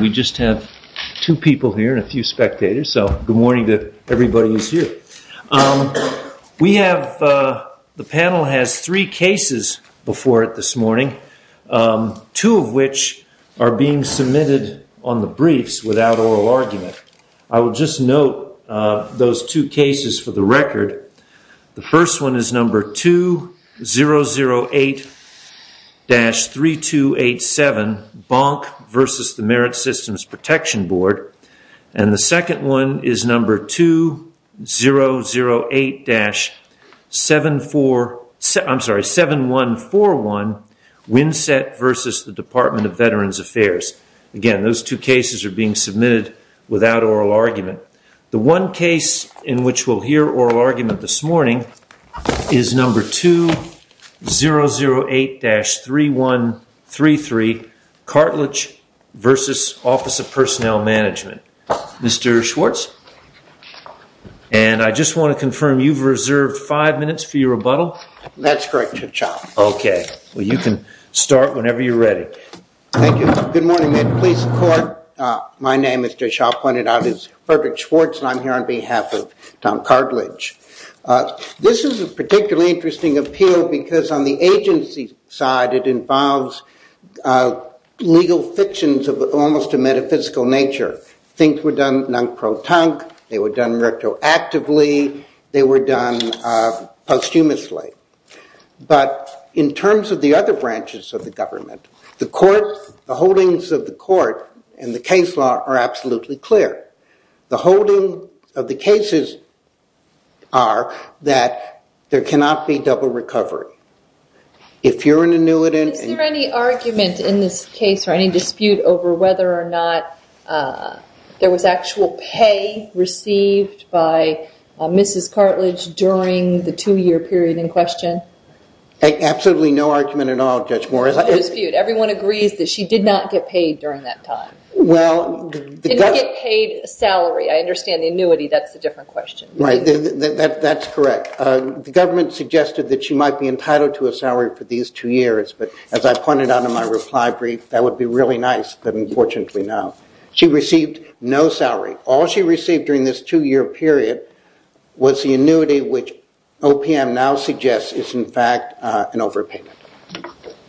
We just have two people here and a few spectators, so good morning to everybody who's here. We have, the panel has three cases before it this morning, two of which are being submitted on the briefs without oral argument. I will just note those two cases for the record. The first one is number 2008-3287, Bonk v. the Merit Systems Protection Board, and the second one is number 2008-7141, Winsett v. the Department of Veterans Affairs. Again, those two cases are being submitted without oral argument. The one case in which we'll hear oral argument this morning is number 2008-3133, Cartledge v. Office of Personnel Management. Mr. Schwartz, and I just want to confirm, you've reserved five minutes for your rebuttal? That's correct, Your Honor. Okay, well you can start whenever you're ready. Thank you. Good morning, police and court. My name, as Jay Shah pointed out, is Frederick Schwartz, and I'm here on behalf of Tom Cartledge. This is a particularly interesting appeal because on the agency side, it involves legal fictions of almost a metaphysical nature. Things were done non-pro-tank, they were done retroactively, they were done posthumously. But in terms of the other branches of the government, the court, the holdings of the court and the case law are absolutely clear. The holding of the cases are that there cannot be double recovery. Is there any argument in this case or any dispute over whether or not there was actual pay received by Mrs. Cartledge during the two-year period in question? Absolutely no argument at all, Judge Morris. No dispute. Everyone agrees that she did not get paid during that time. Didn't get paid a salary. I understand the annuity, that's a different question. That's correct. The government suggested that she might be entitled to a salary for these two years, but as I pointed out in my reply brief, that would be really nice, but unfortunately no. She received no salary. All she received during this two-year period was the annuity, which OPM now suggests is in fact an overpayment.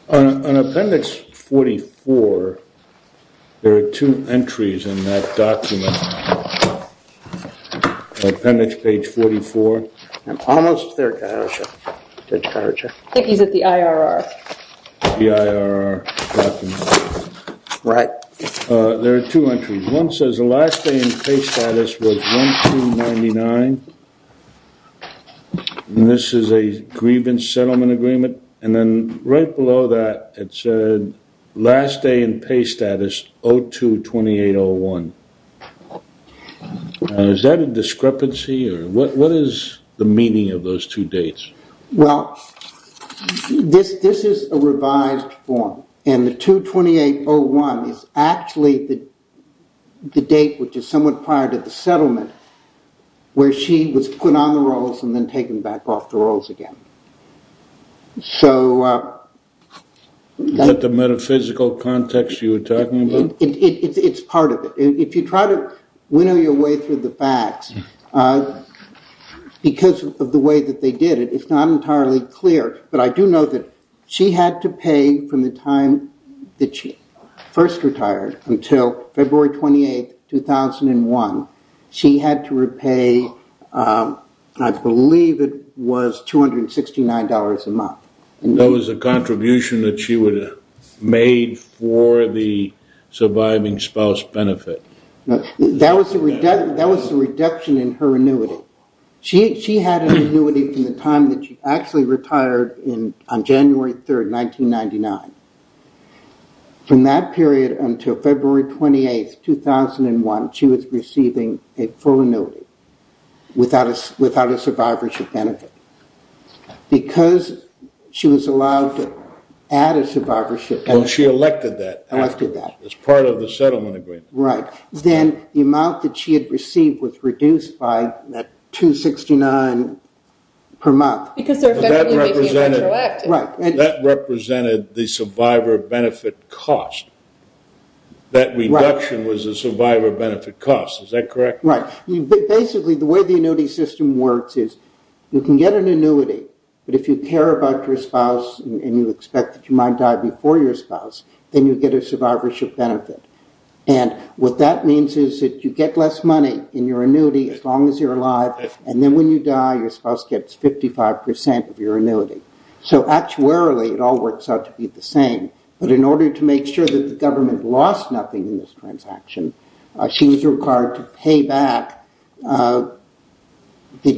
On appendix 44, there are two entries in that document, appendix page 44. I think he's at the IRR. The IRR document. Right. There are two entries. One says the last day in pay status was 1-2-99. This is a grievance settlement agreement. Then right below that it said last day in pay status 0-2-28-01. Is that a discrepancy? What is the meaning of those two dates? Well, this is a revised form and the 2-2-8-01 is actually the date which is somewhat prior to the settlement where she was put on the rolls and then taken back off the rolls again. Is that the metaphysical context you were talking about? It's part of it. If you try to winnow your way through the facts because of the way that they did it, it's not entirely clear, but I do know that she had to pay from the time that she first retired until February 28, 2001. She had to repay, I believe it was $269 a month. That was a contribution that she would have made for the surviving spouse benefit. That was the reduction in her annuity. She had an annuity from the time that she actually retired on January 3, 1999. From that period until February 28, 2001, she was receiving a full annuity without a survivorship benefit. Because she was allowed to add a survivorship benefit. She elected that afterwards as part of the settlement agreement. Right. Then the amount that she had received was reduced by $269 per month. Because they're effectively making it retroactive. Right. That represented the survivor benefit cost. That reduction was the survivor benefit cost. Is that correct? Right. Basically, the way the annuity system works is you can get an annuity, but if you care about your spouse and you expect that you might die before your spouse, then you get a survivorship benefit. What that means is that you get less money in your annuity as long as you're alive, and then when you die, your spouse gets 55% of your annuity. Actuarially, it all works out to be the same, but in order to make sure that the government lost nothing in this transaction, she was required to pay back the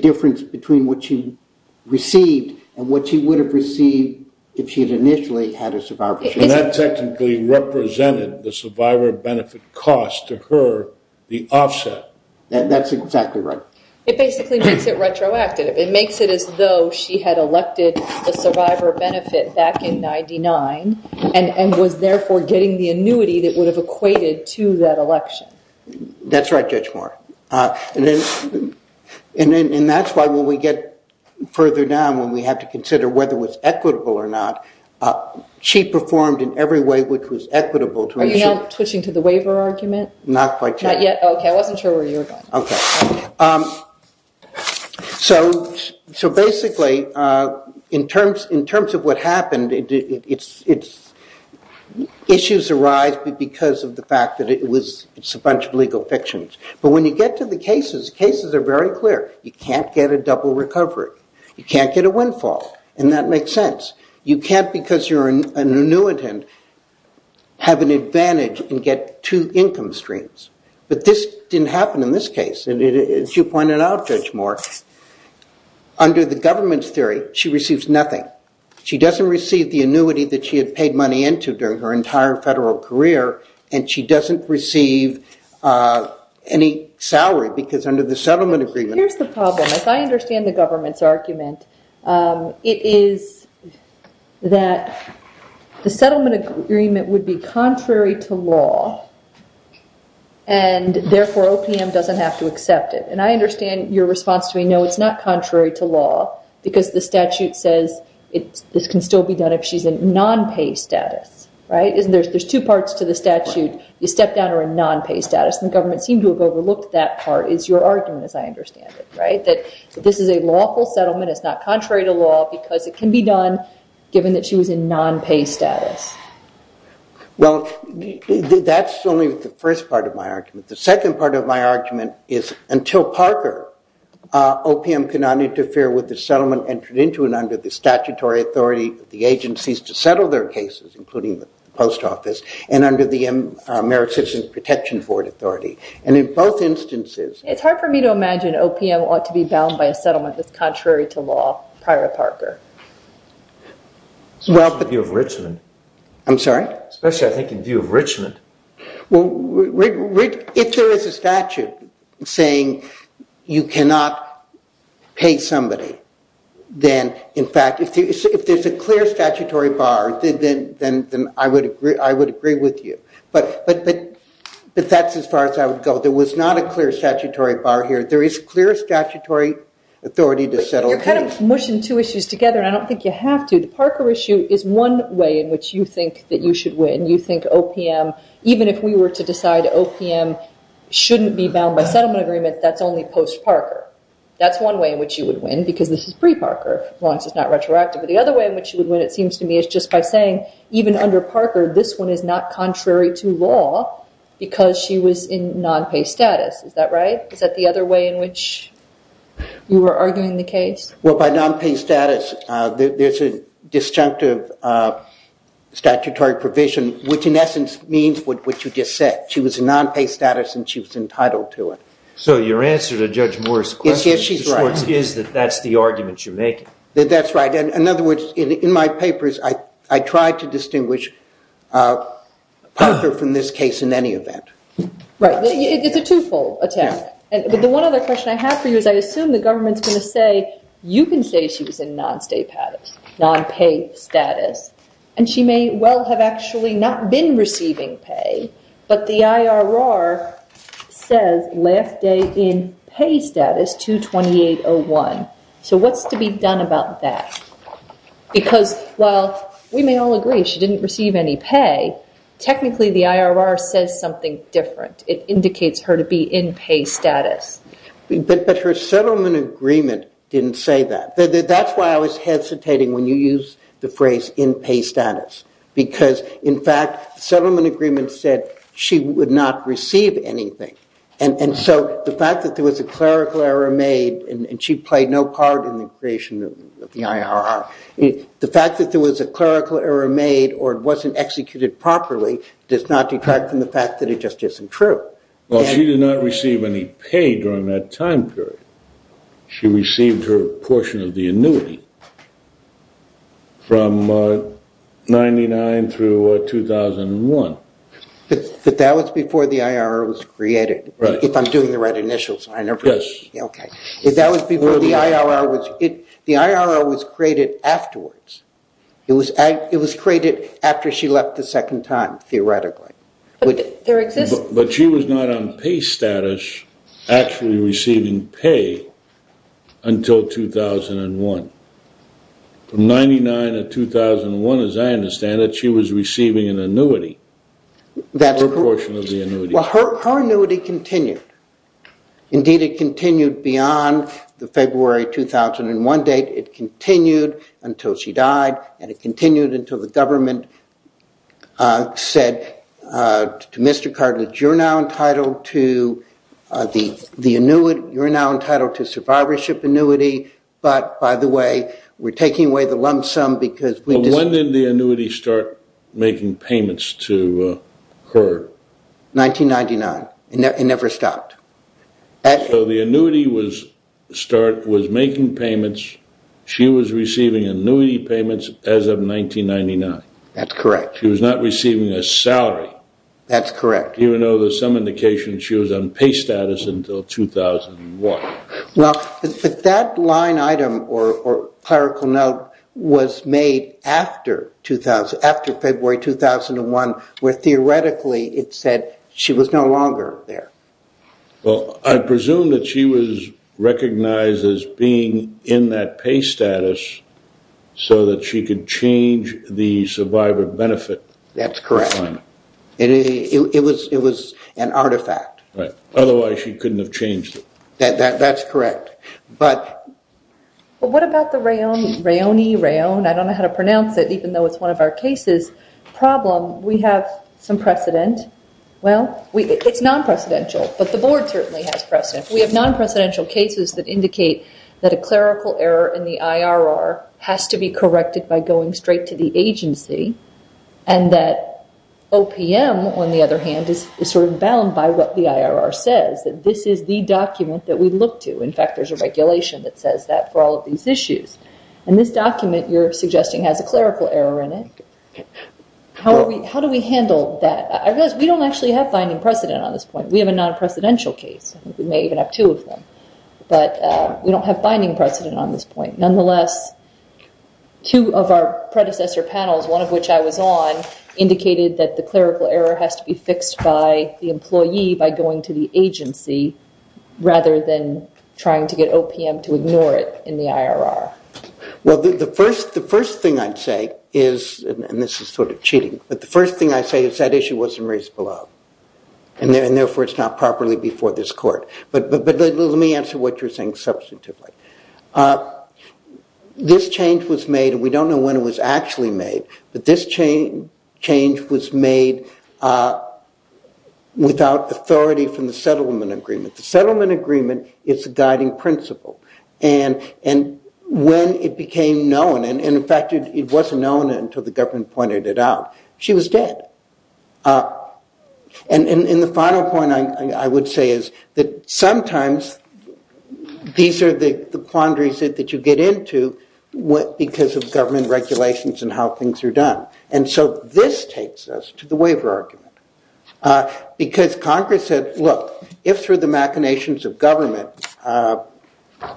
difference between what she received and what she would have received if she had initially had a survivorship benefit. That technically represented the survivor benefit cost to her, the offset. That's exactly right. It basically makes it retroactive. It makes it as though she had elected the survivor benefit back in 1999 and was therefore getting the annuity that would have equated to that election. That's right, Judge Moore. That's why when we get further down, when we have to consider whether it was equitable or not, she performed in every way which was equitable. Are you now twitching to the waiver argument? Not quite yet. Not yet? OK. I wasn't sure where you were going. OK. So basically, in terms of what happened, issues arise because of the fact that it's a bunch of legal fictions. But when you get to the cases, cases are very clear. You can't get a double recovery. You can't get a windfall, and that makes sense. You can't, because you're an annuitant, have an advantage and get two income streams. But this didn't happen in this case. As you pointed out, Judge Moore, under the government's theory, she receives nothing. She doesn't receive the annuity that she had paid money into during her entire federal career, and she doesn't receive any salary because under the settlement agreement... Here's the problem. If I understand the government's argument, it is that the settlement agreement would be contrary to law, and therefore OPM doesn't have to accept it. And I understand your response to me, no, it's not contrary to law, because the statute says this can still be done if she's in non-pay status. There's two parts to the statute. You step down to a non-pay status, and the government seemed to have overlooked that part, is your argument, as I understand it. That this is a lawful settlement, it's not contrary to law, because it can be done given that she was in non-pay status. Well, that's only the first part of my argument. The second part of my argument is until Parker, OPM cannot interfere with the settlement entered into and under the statutory authority of the agencies to settle their cases, including the post office, and under the Merit Citizens Protection Board authority. And in both instances... It's hard for me to imagine OPM ought to be bound by a settlement that's contrary to law prior to Parker. Especially in view of Richmond. I'm sorry? Especially, I think, in view of Richmond. Well, if there is a statute saying you cannot pay somebody, then, in fact, if there's a clear statutory bar, then I would agree with you. But that's as far as I would go. There was not a clear statutory bar here. There is clear statutory authority to settle a case. You're kind of mushing two issues together, and I don't think you have to. The Parker issue is one way in which you think that you should win. You think OPM, even if we were to decide OPM shouldn't be bound by settlement agreement, that's only post-Parker. That's one way in which you would win, because this is pre-Parker. As long as it's not retroactive. But the other way in which you would win, it seems to me, is just by saying, even under Parker, this one is not contrary to law, because she was in non-pay status. Is that right? Is that the other way in which you were arguing the case? Well, by non-pay status, there's a disjunctive statutory provision, which, in essence, means what you just said. She was in non-pay status, and she was entitled to it. So your answer to Judge Moore's question is that that's the argument you're making. That's right. In other words, in my papers, I try to distinguish Parker from this case in any event. Right. It's a twofold attempt. But the one other question I have for you is I assume the government's going to say, you can say she was in non-pay status, and she may well have actually not been receiving pay, but the IRR says last day in pay status, 2-2801. So what's to be done about that? Because while we may all agree she didn't receive any pay, technically the IRR says something different. It indicates her to be in pay status. But her settlement agreement didn't say that. That's why I was hesitating when you used the phrase in pay status, because, in fact, the settlement agreement said she would not receive anything. And so the fact that there was a clerical error made, and she played no part in the creation of the IRR, the fact that there was a clerical error made or it wasn't executed properly does not detract from the fact that it just isn't true. Well, she did not receive any pay during that time period. She received her portion of the annuity from 99 through 2001. But that was before the IRR was created. Right. If I'm doing the right initials. Yes. Okay. That was before the IRR. The IRR was created afterwards. It was created after she left the second time, theoretically. But she was not on pay status actually receiving pay until 2001. From 99 to 2001, as I understand it, she was receiving an annuity, her portion of the annuity. Well, her annuity continued. Indeed, it continued beyond the February 2001 date. It continued until she died, and it continued until the government said to Mr. Cartlidge, you're now entitled to survivorship annuity, but by the way, we're taking away the lump sum because... But when did the annuity start making payments to her? 1999. It never stopped. So the annuity was making payments. She was receiving annuity payments as of 1999. That's correct. She was not receiving a salary. That's correct. Even though there's some indication she was on pay status until 2001. Well, that line item or clerical note was made after February 2001, where theoretically it said she was no longer there. Well, I presume that she was recognized as being in that pay status so that she could change the survivor benefit. That's correct. It was an artifact. Otherwise, she couldn't have changed it. That's correct. But what about the Raoni, Raon, I don't know how to pronounce it, even though it's one of our cases, problem? We have some precedent. Well, it's non-precedential, but the board certainly has precedent. We have non-precedential cases that indicate that a clerical error in the IRR has to be corrected by going straight to the agency, and that OPM, on the other hand, is sort of bound by what the IRR says, that this is the document that we look to. In fact, there's a regulation that says that for all of these issues. And this document you're suggesting has a clerical error in it. How do we handle that? I realize we don't actually have binding precedent on this point. We have a non-precedential case. I think we may even have two of them. But we don't have binding precedent on this point. Nonetheless, two of our predecessor panels, one of which I was on, indicated that the clerical error has to be fixed by the employee by going to the agency, rather than trying to get OPM to ignore it in the IRR. Well, the first thing I'd say is, and this is sort of cheating, but the first thing I'd say is that issue wasn't raised below. And therefore, it's not properly before this court. But let me answer what you're saying substantively. This change was made, and we don't know when it was actually made, but this change was made without authority from the settlement agreement. The settlement agreement is a guiding principle. And when it became known, and in fact, it wasn't known until the government pointed it out, she was dead. And the final point I would say is that sometimes these are the quandaries that you get into because of government regulations and how things are done. And so this takes us to the waiver argument. Because Congress said, look, if through the machinations of government,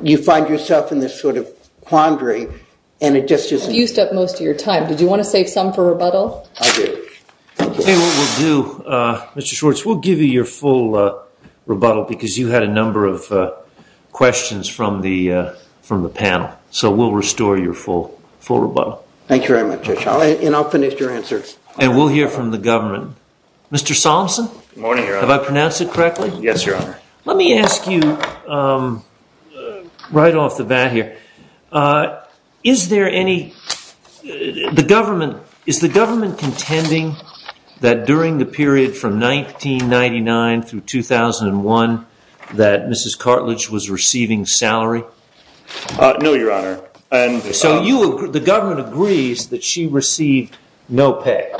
you find yourself in this sort of quandary, and it just isn't. You've used up most of your time. Did you want to save some for rebuttal? I do. And what we'll do, Mr. Schwartz, we'll give you your full rebuttal because you had a number of questions from the panel. So we'll restore your full rebuttal. Thank you very much, Judge. And I'll finish your answer. And we'll hear from the government. Mr. Solomson? Good morning, Your Honor. Have I pronounced it correctly? Yes, Your Honor. Let me ask you right off the bat here. Is the government contending that during the period from 1999 through 2001 that Mrs. Cartlidge was receiving salary? No, Your Honor. So the government agrees that she received no pay.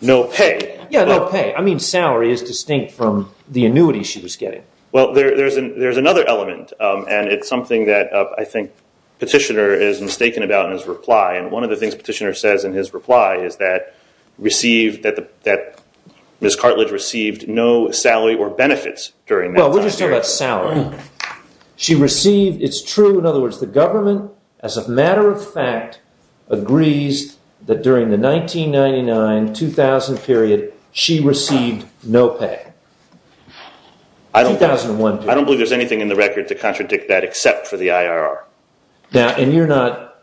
No pay? Yeah, no pay. I mean salary is distinct from the annuity she was getting. Well, there's another element. And it's something that I think Petitioner is mistaken about in his reply. And one of the things Petitioner says in his reply is that Mrs. Cartlidge received no salary or benefits during that time period. Well, we're just talking about salary. She received, it's true, in other words, the government, as a matter of fact, agrees that during the 1999-2000 period she received no pay. 2001 period. I don't believe there's anything in the record to contradict that except for the IRR. And you're not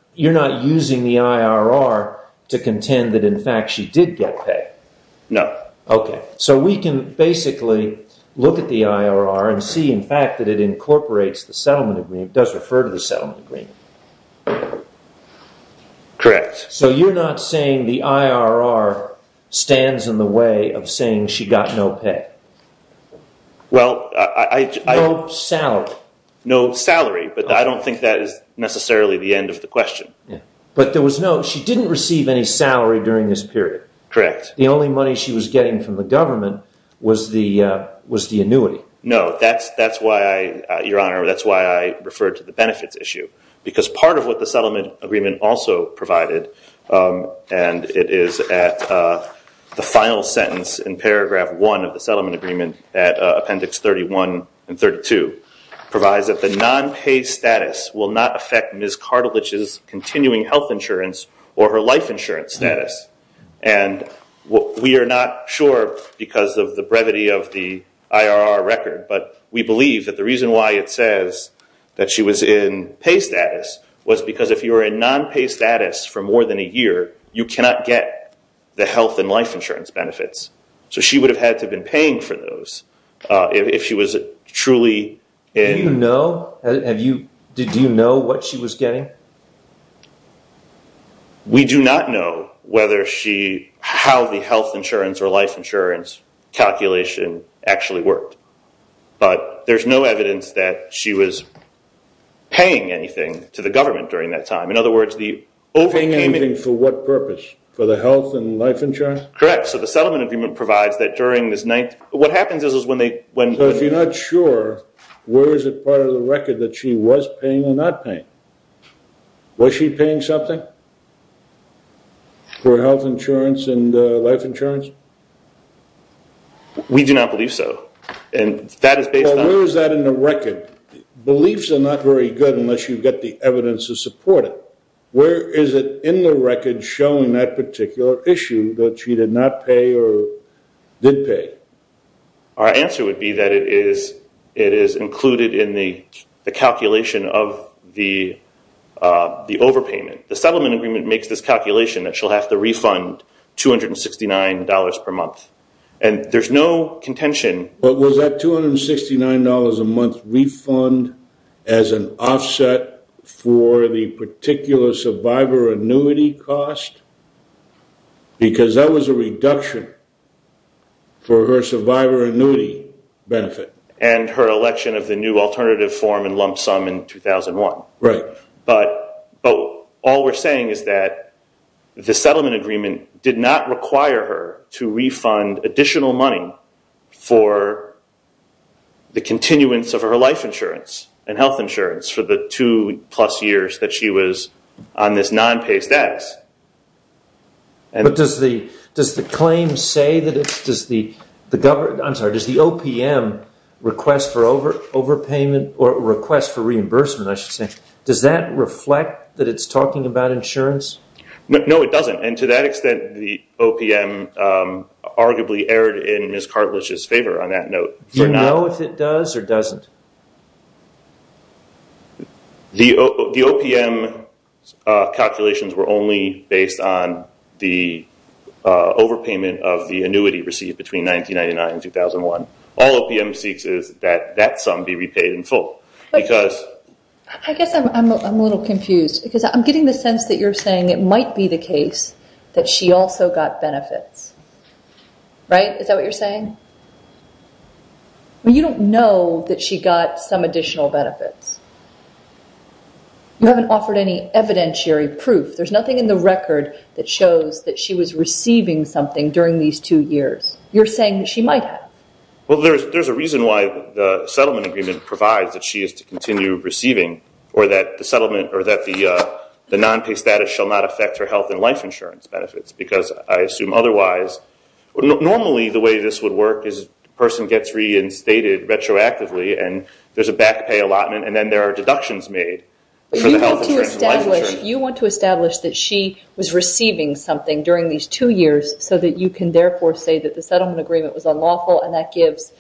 using the IRR to contend that, in fact, she did get pay? No. Okay. So we can basically look at the IRR and see, in fact, that it incorporates the settlement agreement, does refer to the settlement agreement. Correct. So you're not saying the IRR stands in the way of saying she got no pay? Well, I... No salary. No salary, but I don't think that is necessarily the end of the question. But there was no, she didn't receive any salary during this period. Correct. The only money she was getting from the government was the annuity. No, that's why, Your Honor, that's why I referred to the benefits issue. Because part of what the settlement agreement also provided, and it is at the final sentence in paragraph one of the settlement agreement at appendix 31 and 32, provides that the non-pay status will not affect Ms. Cartlidge's continuing health insurance or her life insurance status. And we are not sure because of the brevity of the IRR record, but we believe that the reason why it says that she was in pay status was because if you were in non-pay status for more than a year, you cannot get the health and life insurance benefits. So she would have had to have been paying for those if she was truly in... Do you know, did you know what she was getting? We do not know whether she, how the health insurance or life insurance calculation actually worked. But there's no evidence that she was paying anything to the government during that time. In other words, the overpayment... Paying anything for what purpose? For the health and life insurance? Correct. So the settlement agreement provides that during this... What happens is when they... So if you're not sure, where is it part of the record that she was paying or not paying? Was she paying something? For health insurance and life insurance? We do not believe so. And that is based on... Well, where is that in the record? Beliefs are not very good unless you've got the evidence to support it. Where is it in the record showing that particular issue that she did not pay or did pay? Our answer would be that it is included in the calculation of the overpayment. The settlement agreement makes this calculation that she'll have to refund $269 per month. And there's no contention... But was that $269 a month refund as an offset for the particular survivor annuity cost? Because that was a reduction for her survivor annuity benefit. And her election of the new alternative form in lump sum in 2001. Right. But all we're saying is that the settlement agreement did not require her to refund additional money for the continuance of her life insurance and health insurance for the two-plus years that she was on this non-pays debt. But does the claim say that it's... I'm sorry, does the OPM request for overpayment or request for reimbursement, I should say, does that reflect that it's talking about insurance? No, it doesn't. And to that extent, the OPM arguably erred in Ms. Cartlidge's favor on that note. Do you know if it does or doesn't? The OPM calculations were only based on the overpayment of the annuity received between 1999 and 2001. I guess I'm a little confused because I'm getting the sense that you're saying it might be the case that she also got benefits. Right? Is that what you're saying? You don't know that she got some additional benefits. You haven't offered any evidentiary proof. There's nothing in the record that shows that she was receiving something during these two years. You're saying that she might have. Well, there's a reason why the settlement agreement provides that she is to continue receiving or that the settlement or that the non-pay status shall not affect her health and life insurance benefits because I assume otherwise. Normally, the way this would work is a person gets reinstated retroactively and there's a back pay allotment and then there are deductions made for the health insurance and life insurance. You want to establish that she was receiving something during these two years so that you can therefore say that the settlement agreement was unlawful and that gives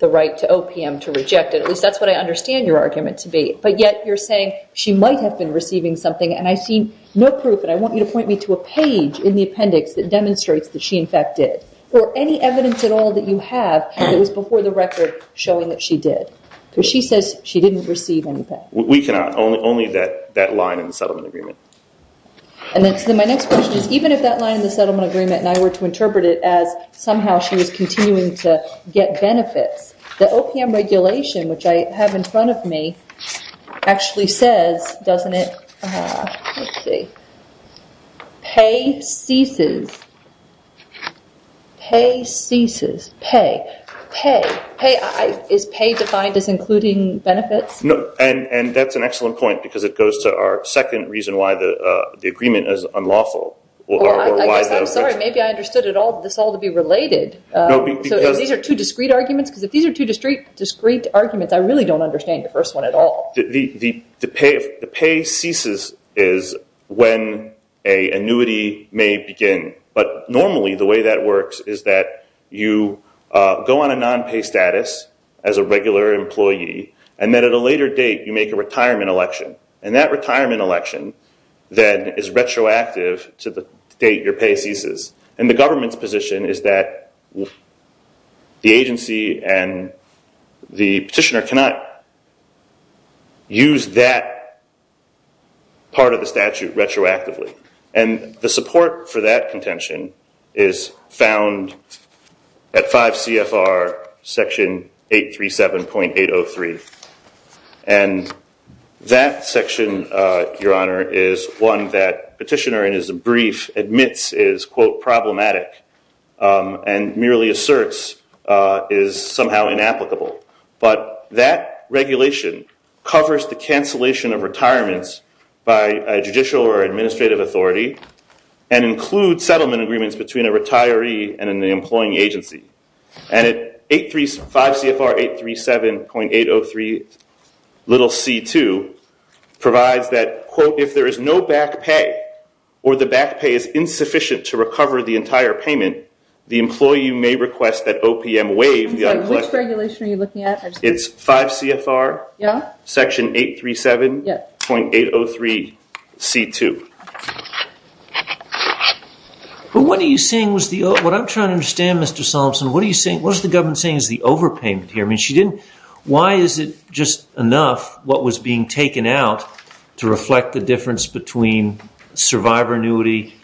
the right to OPM to reject it. At least that's what I understand your argument to be. But yet you're saying she might have been receiving something and I see no proof and I want you to point me to a page in the appendix that demonstrates that she in fact did or any evidence at all that you have that was before the record showing that she did because she says she didn't receive anything. We cannot. Only that line in the settlement agreement. My next question is even if that line in the settlement agreement and I were to interpret it as somehow she was continuing to get benefits, the OPM regulation which I have in front of me actually says doesn't it, let's see, pay ceases. Pay ceases. Pay. Pay. Is pay defined as including benefits? No, and that's an excellent point because it goes to our second reason why the agreement is unlawful. I guess I'm sorry, maybe I understood this all to be related. These are two discrete arguments because if these are two discrete arguments I really don't understand the first one at all. The pay ceases is when an annuity may begin but normally the way that works is that you go on a non-pay status as a regular employee and then at a later date you make a retirement election and that retirement election then is retroactive to the date your pay ceases. And the government's position is that the agency and the petitioner cannot use that part of the statute retroactively and the support for that contention is found at 5 CFR section 837.803 and that section, Your Honor, is one that petitioner in his brief admits is, quote, problematic and merely asserts is somehow inapplicable. But that regulation covers the cancellation of retirements by a judicial or administrative authority and includes settlement agreements between a retiree and an employing agency. And at 5 CFR 837.803c2 provides that, quote, if there is no back pay or the back pay is insufficient to recover the entire payment the employee may request that OPM waive the uncollected... Which regulation are you looking at? It's 5 CFR section 837.803c2. But what are you saying was the... What I'm trying to understand, Mr. Solomson, what are you saying... What is the government saying is the overpayment here? I mean, she didn't... Why is it just enough what was being taken out to reflect the difference between survivor annuity,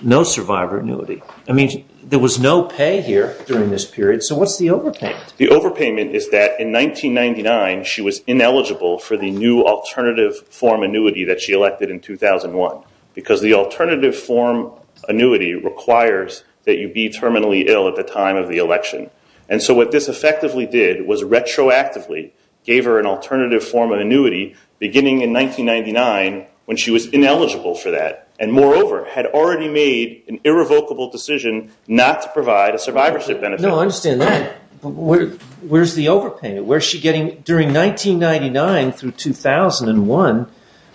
no survivor annuity? I mean, there was no pay here during this period. So what's the overpayment? The overpayment is that in 1999 she was ineligible for the new alternative form annuity that she elected in 2001 because the alternative form annuity requires that you be terminally ill at the time of the election. And so what this effectively did was retroactively gave her an alternative form of annuity beginning in 1999 when she was ineligible for that. And moreover, had already made an irrevocable decision not to provide a survivorship benefit. No, I understand that. But where's the overpayment? Where's she getting... During 1999 through 2001,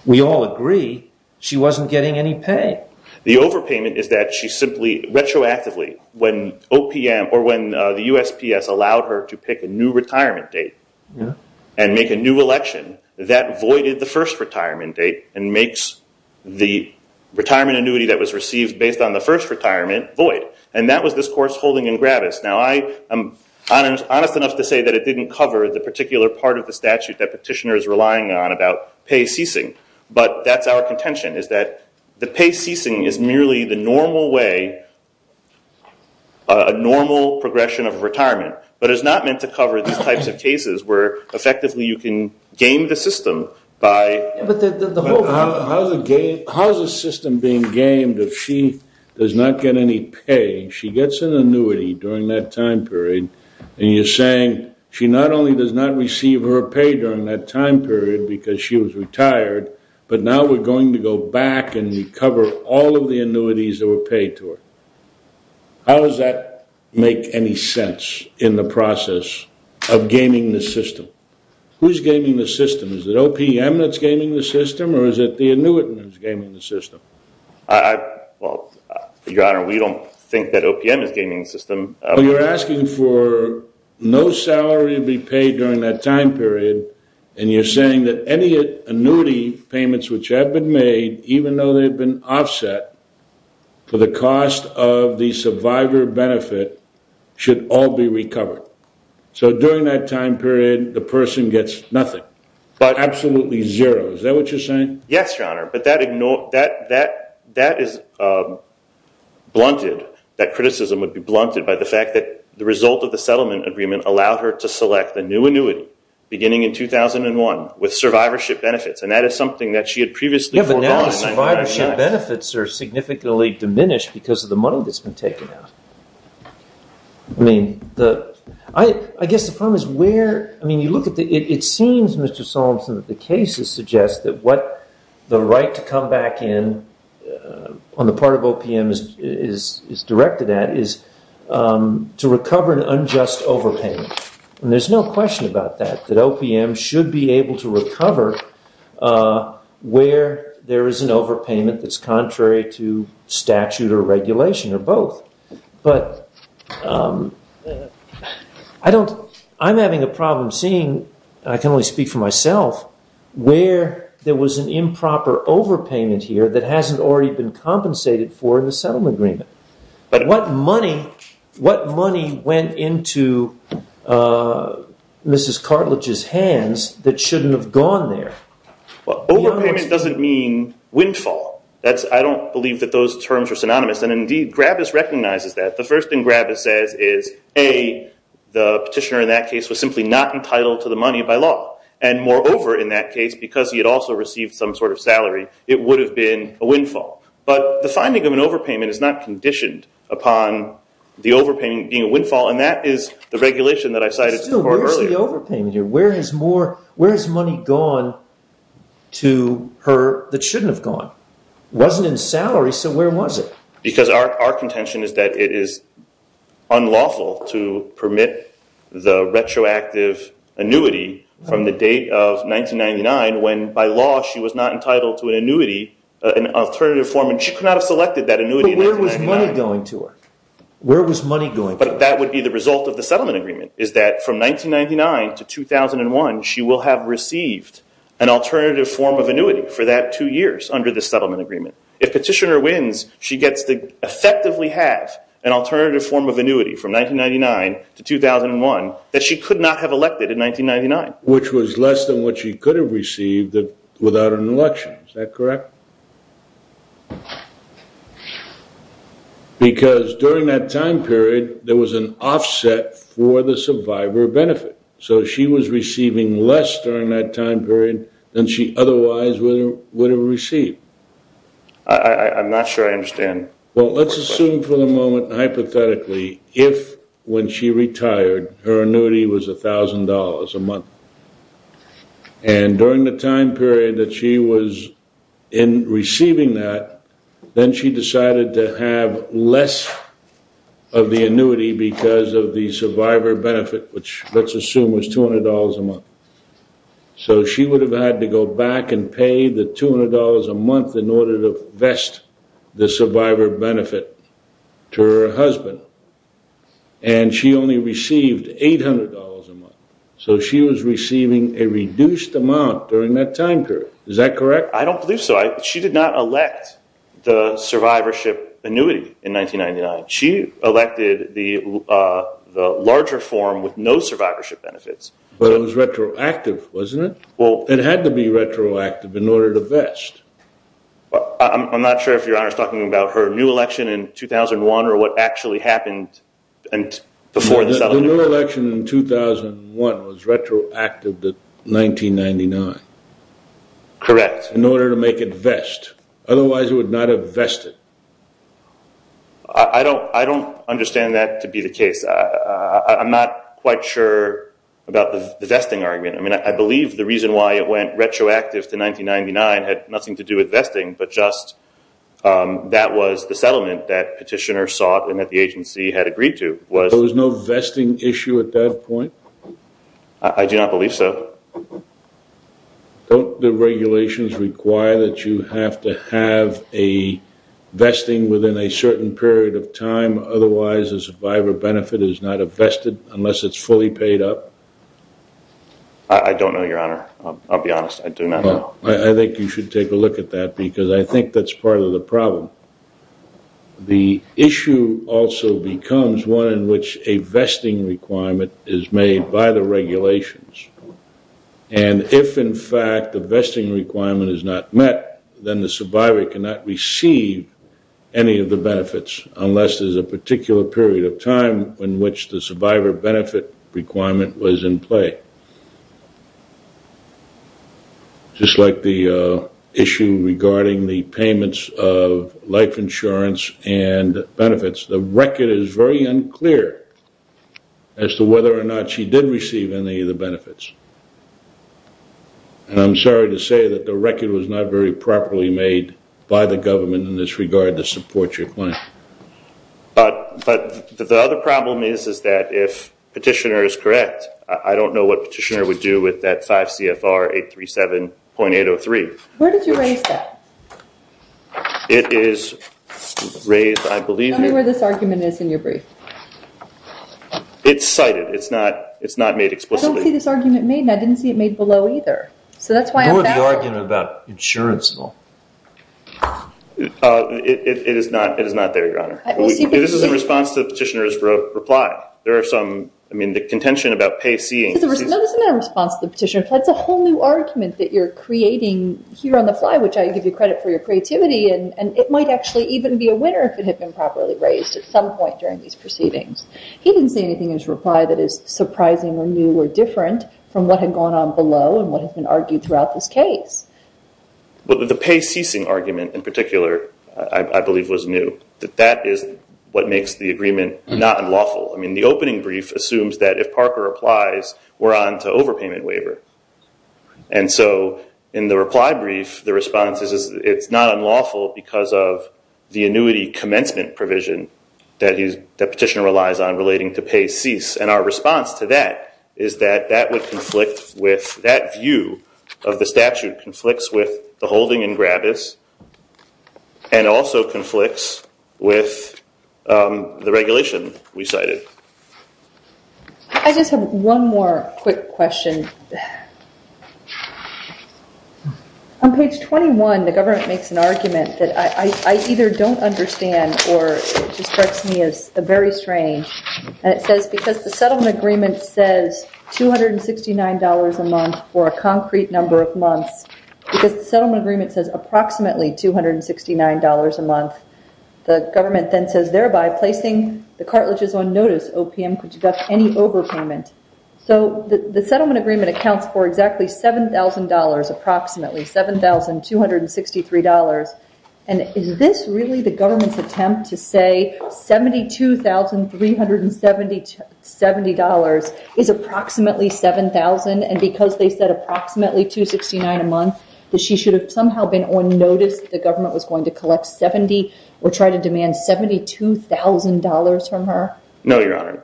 we all agree, she wasn't getting any pay. The overpayment is that she simply retroactively, when OPM or when the USPS allowed her to pick a new retirement date and make a new election, that voided the first retirement date and makes the retirement annuity that was received based on the first retirement void. And that was this course holding in Gravis. Now, I am honest enough to say that it didn't cover the particular part of the statute that Petitioner is relying on about pay ceasing. But that's our contention, is that the pay ceasing is merely the normal way, a normal progression of retirement. But it's not meant to cover these types of cases where effectively you can game the system by... Yeah, but the whole... How's a system being gamed if she does not get any pay? She gets an annuity during that time period, and you're saying, she not only does not receive her pay during that time period because she was retired, but now we're going to go back and recover all of the annuities that were paid to her. How does that make any sense in the process of gaming the system? Who's gaming the system? Is it OPM that's gaming the system, or is it the annuitant who's gaming the system? I... Well, Your Honor, we don't think that OPM is gaming the system. You're asking for no salary to be paid during that time period, and you're saying that any annuity payments which have been made, even though they've been offset, for the cost of the survivor benefit should all be recovered. So during that time period, the person gets nothing, absolutely zero. Is that what you're saying? Yes, Your Honor, but that is blunted. That criticism would be blunted by the fact that the result of the settlement agreement allowed her to select the new annuity beginning in 2001 with survivorship benefits, and that is something that she had previously foregone. Yeah, but now the survivorship benefits are significantly diminished because of the money that's been taken out. I mean, the... I guess the problem is where... I mean, you look at the... It seems, Mr. Solomson, that the cases suggest that what the right to come back in on the part of OPM is directed at is to recover an unjust overpayment, and there's no question about that, that OPM should be able to recover where there is an overpayment that's contrary to statute or regulation or both. But I don't... I'm having a problem seeing, and I can only speak for myself, where there was an improper overpayment here that hasn't already been compensated for in the settlement agreement. But what money went into Mrs. Cartlidge's hands that shouldn't have gone there? Well, overpayment doesn't mean windfall. I don't believe that those terms are synonymous, and indeed, Gravis recognizes that. The first thing Gravis says is, A, the petitioner in that case was simply not entitled to the money by law, and moreover in that case, because he had also received some sort of salary, it would have been a windfall. But the finding of an overpayment is not conditioned upon the overpayment being a windfall, and that is the regulation that I cited earlier. Still, where's the overpayment here? Where has money gone to her that shouldn't have gone? It wasn't in salary, so where was it? Because our contention is that it is unlawful to permit the retroactive annuity from the date of 1999, when by law she was not entitled to an annuity, an alternative form, and she could not have selected that annuity in 1999. But where was money going to her? But that would be the result of the settlement agreement, is that from 1999 to 2001, she will have received an alternative form of annuity for that two years under the settlement agreement. If petitioner wins, she gets to effectively have an alternative form of annuity from 1999 to 2001 that she could not have elected in 1999. Which was less than what she could have received without an election. Is that correct? Because during that time period, there was an offset for the survivor benefit. So she was receiving less during that time period than she otherwise would have received. I'm not sure I understand. Well, let's assume for the moment, hypothetically, if when she retired, her annuity was $1,000 a month. And during the time period that she was receiving that, then she decided to have less of the annuity because of the survivor benefit, which let's assume was $200 a month. So she would have had to go back and pay the $200 a month in order to vest the survivor benefit to her husband. And she only received $800 a month. So she was receiving a reduced amount during that time period. Is that correct? I don't believe so. She did not elect the survivorship annuity in 1999. She elected the larger form with no survivorship benefits. But it was retroactive, wasn't it? It had to be retroactive in order to vest. I'm not sure if Your Honor is talking about her new election in 2001 or what actually happened before the settlement. The new election in 2001 was retroactive to 1999. Correct. In order to make it vest. Otherwise it would not have vested. I don't understand that to be the case. I'm not quite sure about the vesting argument. I mean, I believe the reason why it went retroactive to 1999 had nothing to do with vesting, but just that was the settlement that petitioners sought and that the agency had agreed to. There was no vesting issue at that point? I do not believe so. Don't the regulations require that you have to have a vesting within a certain period of time? Otherwise a survivor benefit is not a vested unless it's fully paid up? I don't know, Your Honor. I'll be honest. I do not know. I think you should take a look at that because I think that's part of the problem. The issue also becomes one in which a vesting requirement is made by the regulations. And if, in fact, the vesting requirement is not met, then the survivor cannot receive any of the benefits unless there's a particular period of time in which the survivor benefit requirement was in play. Just like the issue regarding the payments of life insurance and benefits, the record is very unclear as to whether or not she did receive any of the benefits. And I'm sorry to say that the record was not very properly made by the government in this regard to support your claim. But the other problem is that if petitioner is correct, I don't know what petitioner would do with that 5 CFR 837.803. Where did you raise that? It is raised, I believe... Tell me where this argument is in your brief. It's cited. It's not made explicitly. I don't see this argument made, and I didn't see it made below either. So that's why I'm... What about the argument about insurance law? It is not there, Your Honor. This is in response to the petitioner's reply. There are some... I mean, the contention about pay ceasing... No, this is not in response to the petitioner's reply. It's a whole new argument that you're creating here on the fly, which I give you credit for your creativity, and it might actually even be a winner if it had been properly raised at some point during these proceedings. He didn't say anything in his reply that is surprising or new or different from what had gone on below and what has been argued throughout this case. But the pay ceasing argument in particular, I believe, was new. That is what makes the agreement not unlawful. I mean, the opening brief assumes that if Parker applies, we're on to overpayment waiver. And so in the reply brief, the response is it's not unlawful because of the annuity commencement provision that the petitioner relies on relating to pay cease. And our response to that is that that would conflict with... That view of the statute conflicts with the holding in Grabis and also conflicts with the regulation we cited. I just have one more quick question. On page 21, the government makes an argument that I either don't understand or it just strikes me as very strange. And it says, because the settlement agreement says $269 a month for a concrete number of months, because the settlement agreement says approximately $269 a month, the government then says, thereby placing the cartlidges on notice, OPM, could deduct any overpayment. So the settlement agreement accounts for exactly $7,000 approximately, $7,263. And is this really the government's attempt to say $72,370 is approximately $7,000 and because they said approximately $269 a month, that she should have somehow been on notice that the government was going to collect $70 or try to demand $72,000 from her? No, Your Honor.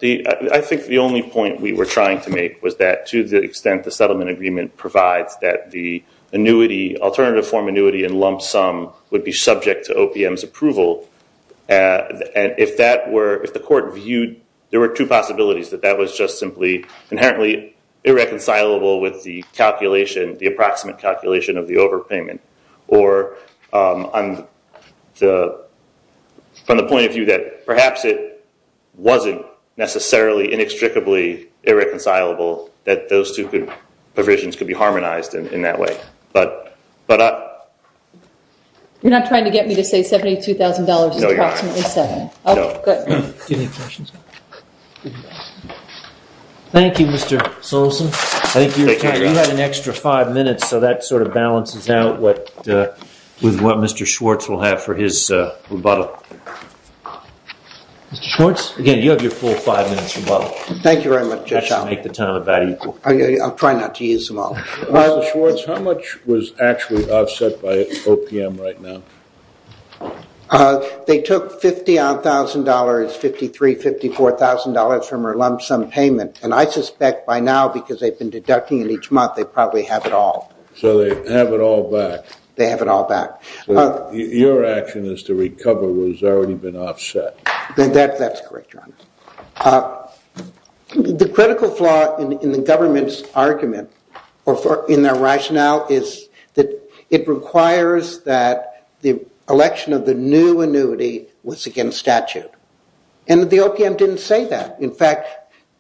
I think the only point we were trying to make was that to the extent the settlement agreement provides that the alternative form annuity in lump sum would be subject to OPM's approval. If the court viewed... that that was just simply inherently irreconcilable with the approximate calculation of the overpayment or from the point of view that perhaps it wasn't necessarily inextricably irreconcilable that those two provisions could be harmonized in that way. You're not trying to get me to say $72,000 is approximately $7,000. No. Thank you, Mr. Solson. I think you had an extra five minutes, so that sort of balances out with what Mr. Schwartz will have for his rebuttal. Mr. Schwartz, again, you have your full five minutes rebuttal. Thank you very much, Your Honor. I shall make the time about equal. I'll try not to use them all. Mr. Schwartz, how much was actually offset by OPM right now? They took $50,000, $53,000, $54,000 from our lump sum payment. And I suspect by now, because they've been deducting it each month, they probably have it all. So they have it all back. They have it all back. Your action is to recover what has already been offset. That's correct, Your Honor. The critical flaw in the government's argument or in their rationale is that it requires that the election of the new annuity was against statute. And the OPM didn't say that. In fact,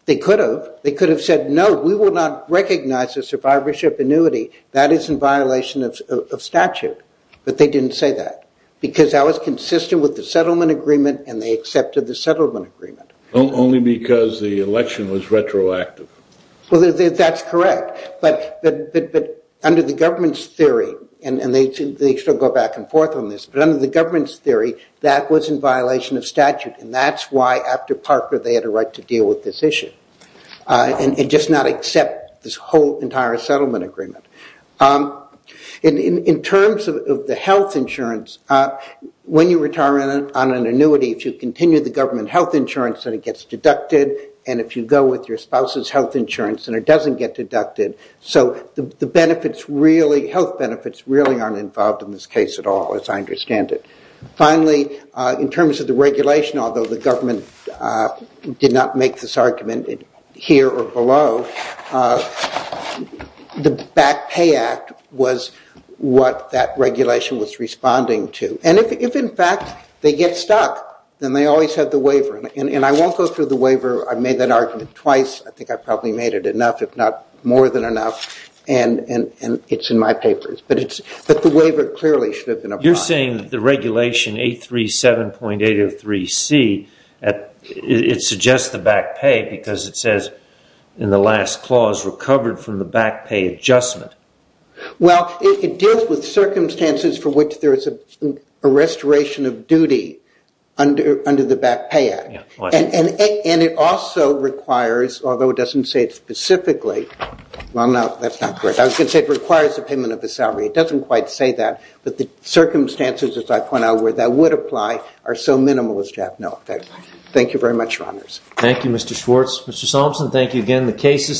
they could have. They could have said, no, we will not recognize a survivorship annuity. That is in violation of statute. But they didn't say that, because that was consistent with the settlement agreement, and they accepted the settlement agreement. Only because the election was retroactive. Well, that's correct. But under the government's theory, and they still go back and forth on this, but under the government's theory, that was in violation of statute. And that's why, after Parker, they had a right to deal with this issue and just not accept this whole entire settlement agreement. In terms of the health insurance, when you retire on an annuity, if you continue the government health insurance, then it gets deducted. And if you go with your spouse's health insurance then it doesn't get deducted. So the health benefits really aren't involved in this case at all, as I understand it. Finally, in terms of the regulation, although the government did not make this argument, here or below, the Back Pay Act was what that regulation was responding to. And if, in fact, they get stuck, then they always have the waiver. And I won't go through the waiver. I made that argument twice. I think I probably made it enough, if not more than enough. And it's in my papers. But the waiver clearly should have been applied. You're saying that the regulation 837.803C suggests the back pay because it says in the last clause, recovered from the back pay adjustment. Well, it deals with circumstances for which there is a restoration of duty under the Back Pay Act. And it also requires, although it doesn't say it specifically, well, no, that's not correct. I was going to say it requires the payment of the salary. It doesn't quite say that. But the circumstances, as I point out, where that would apply are so minimalist to have no effect. Thank you very much, Your Honors. Thank you, Mr. Schwartz. Mr. Solomson, thank you again. The case is submitted.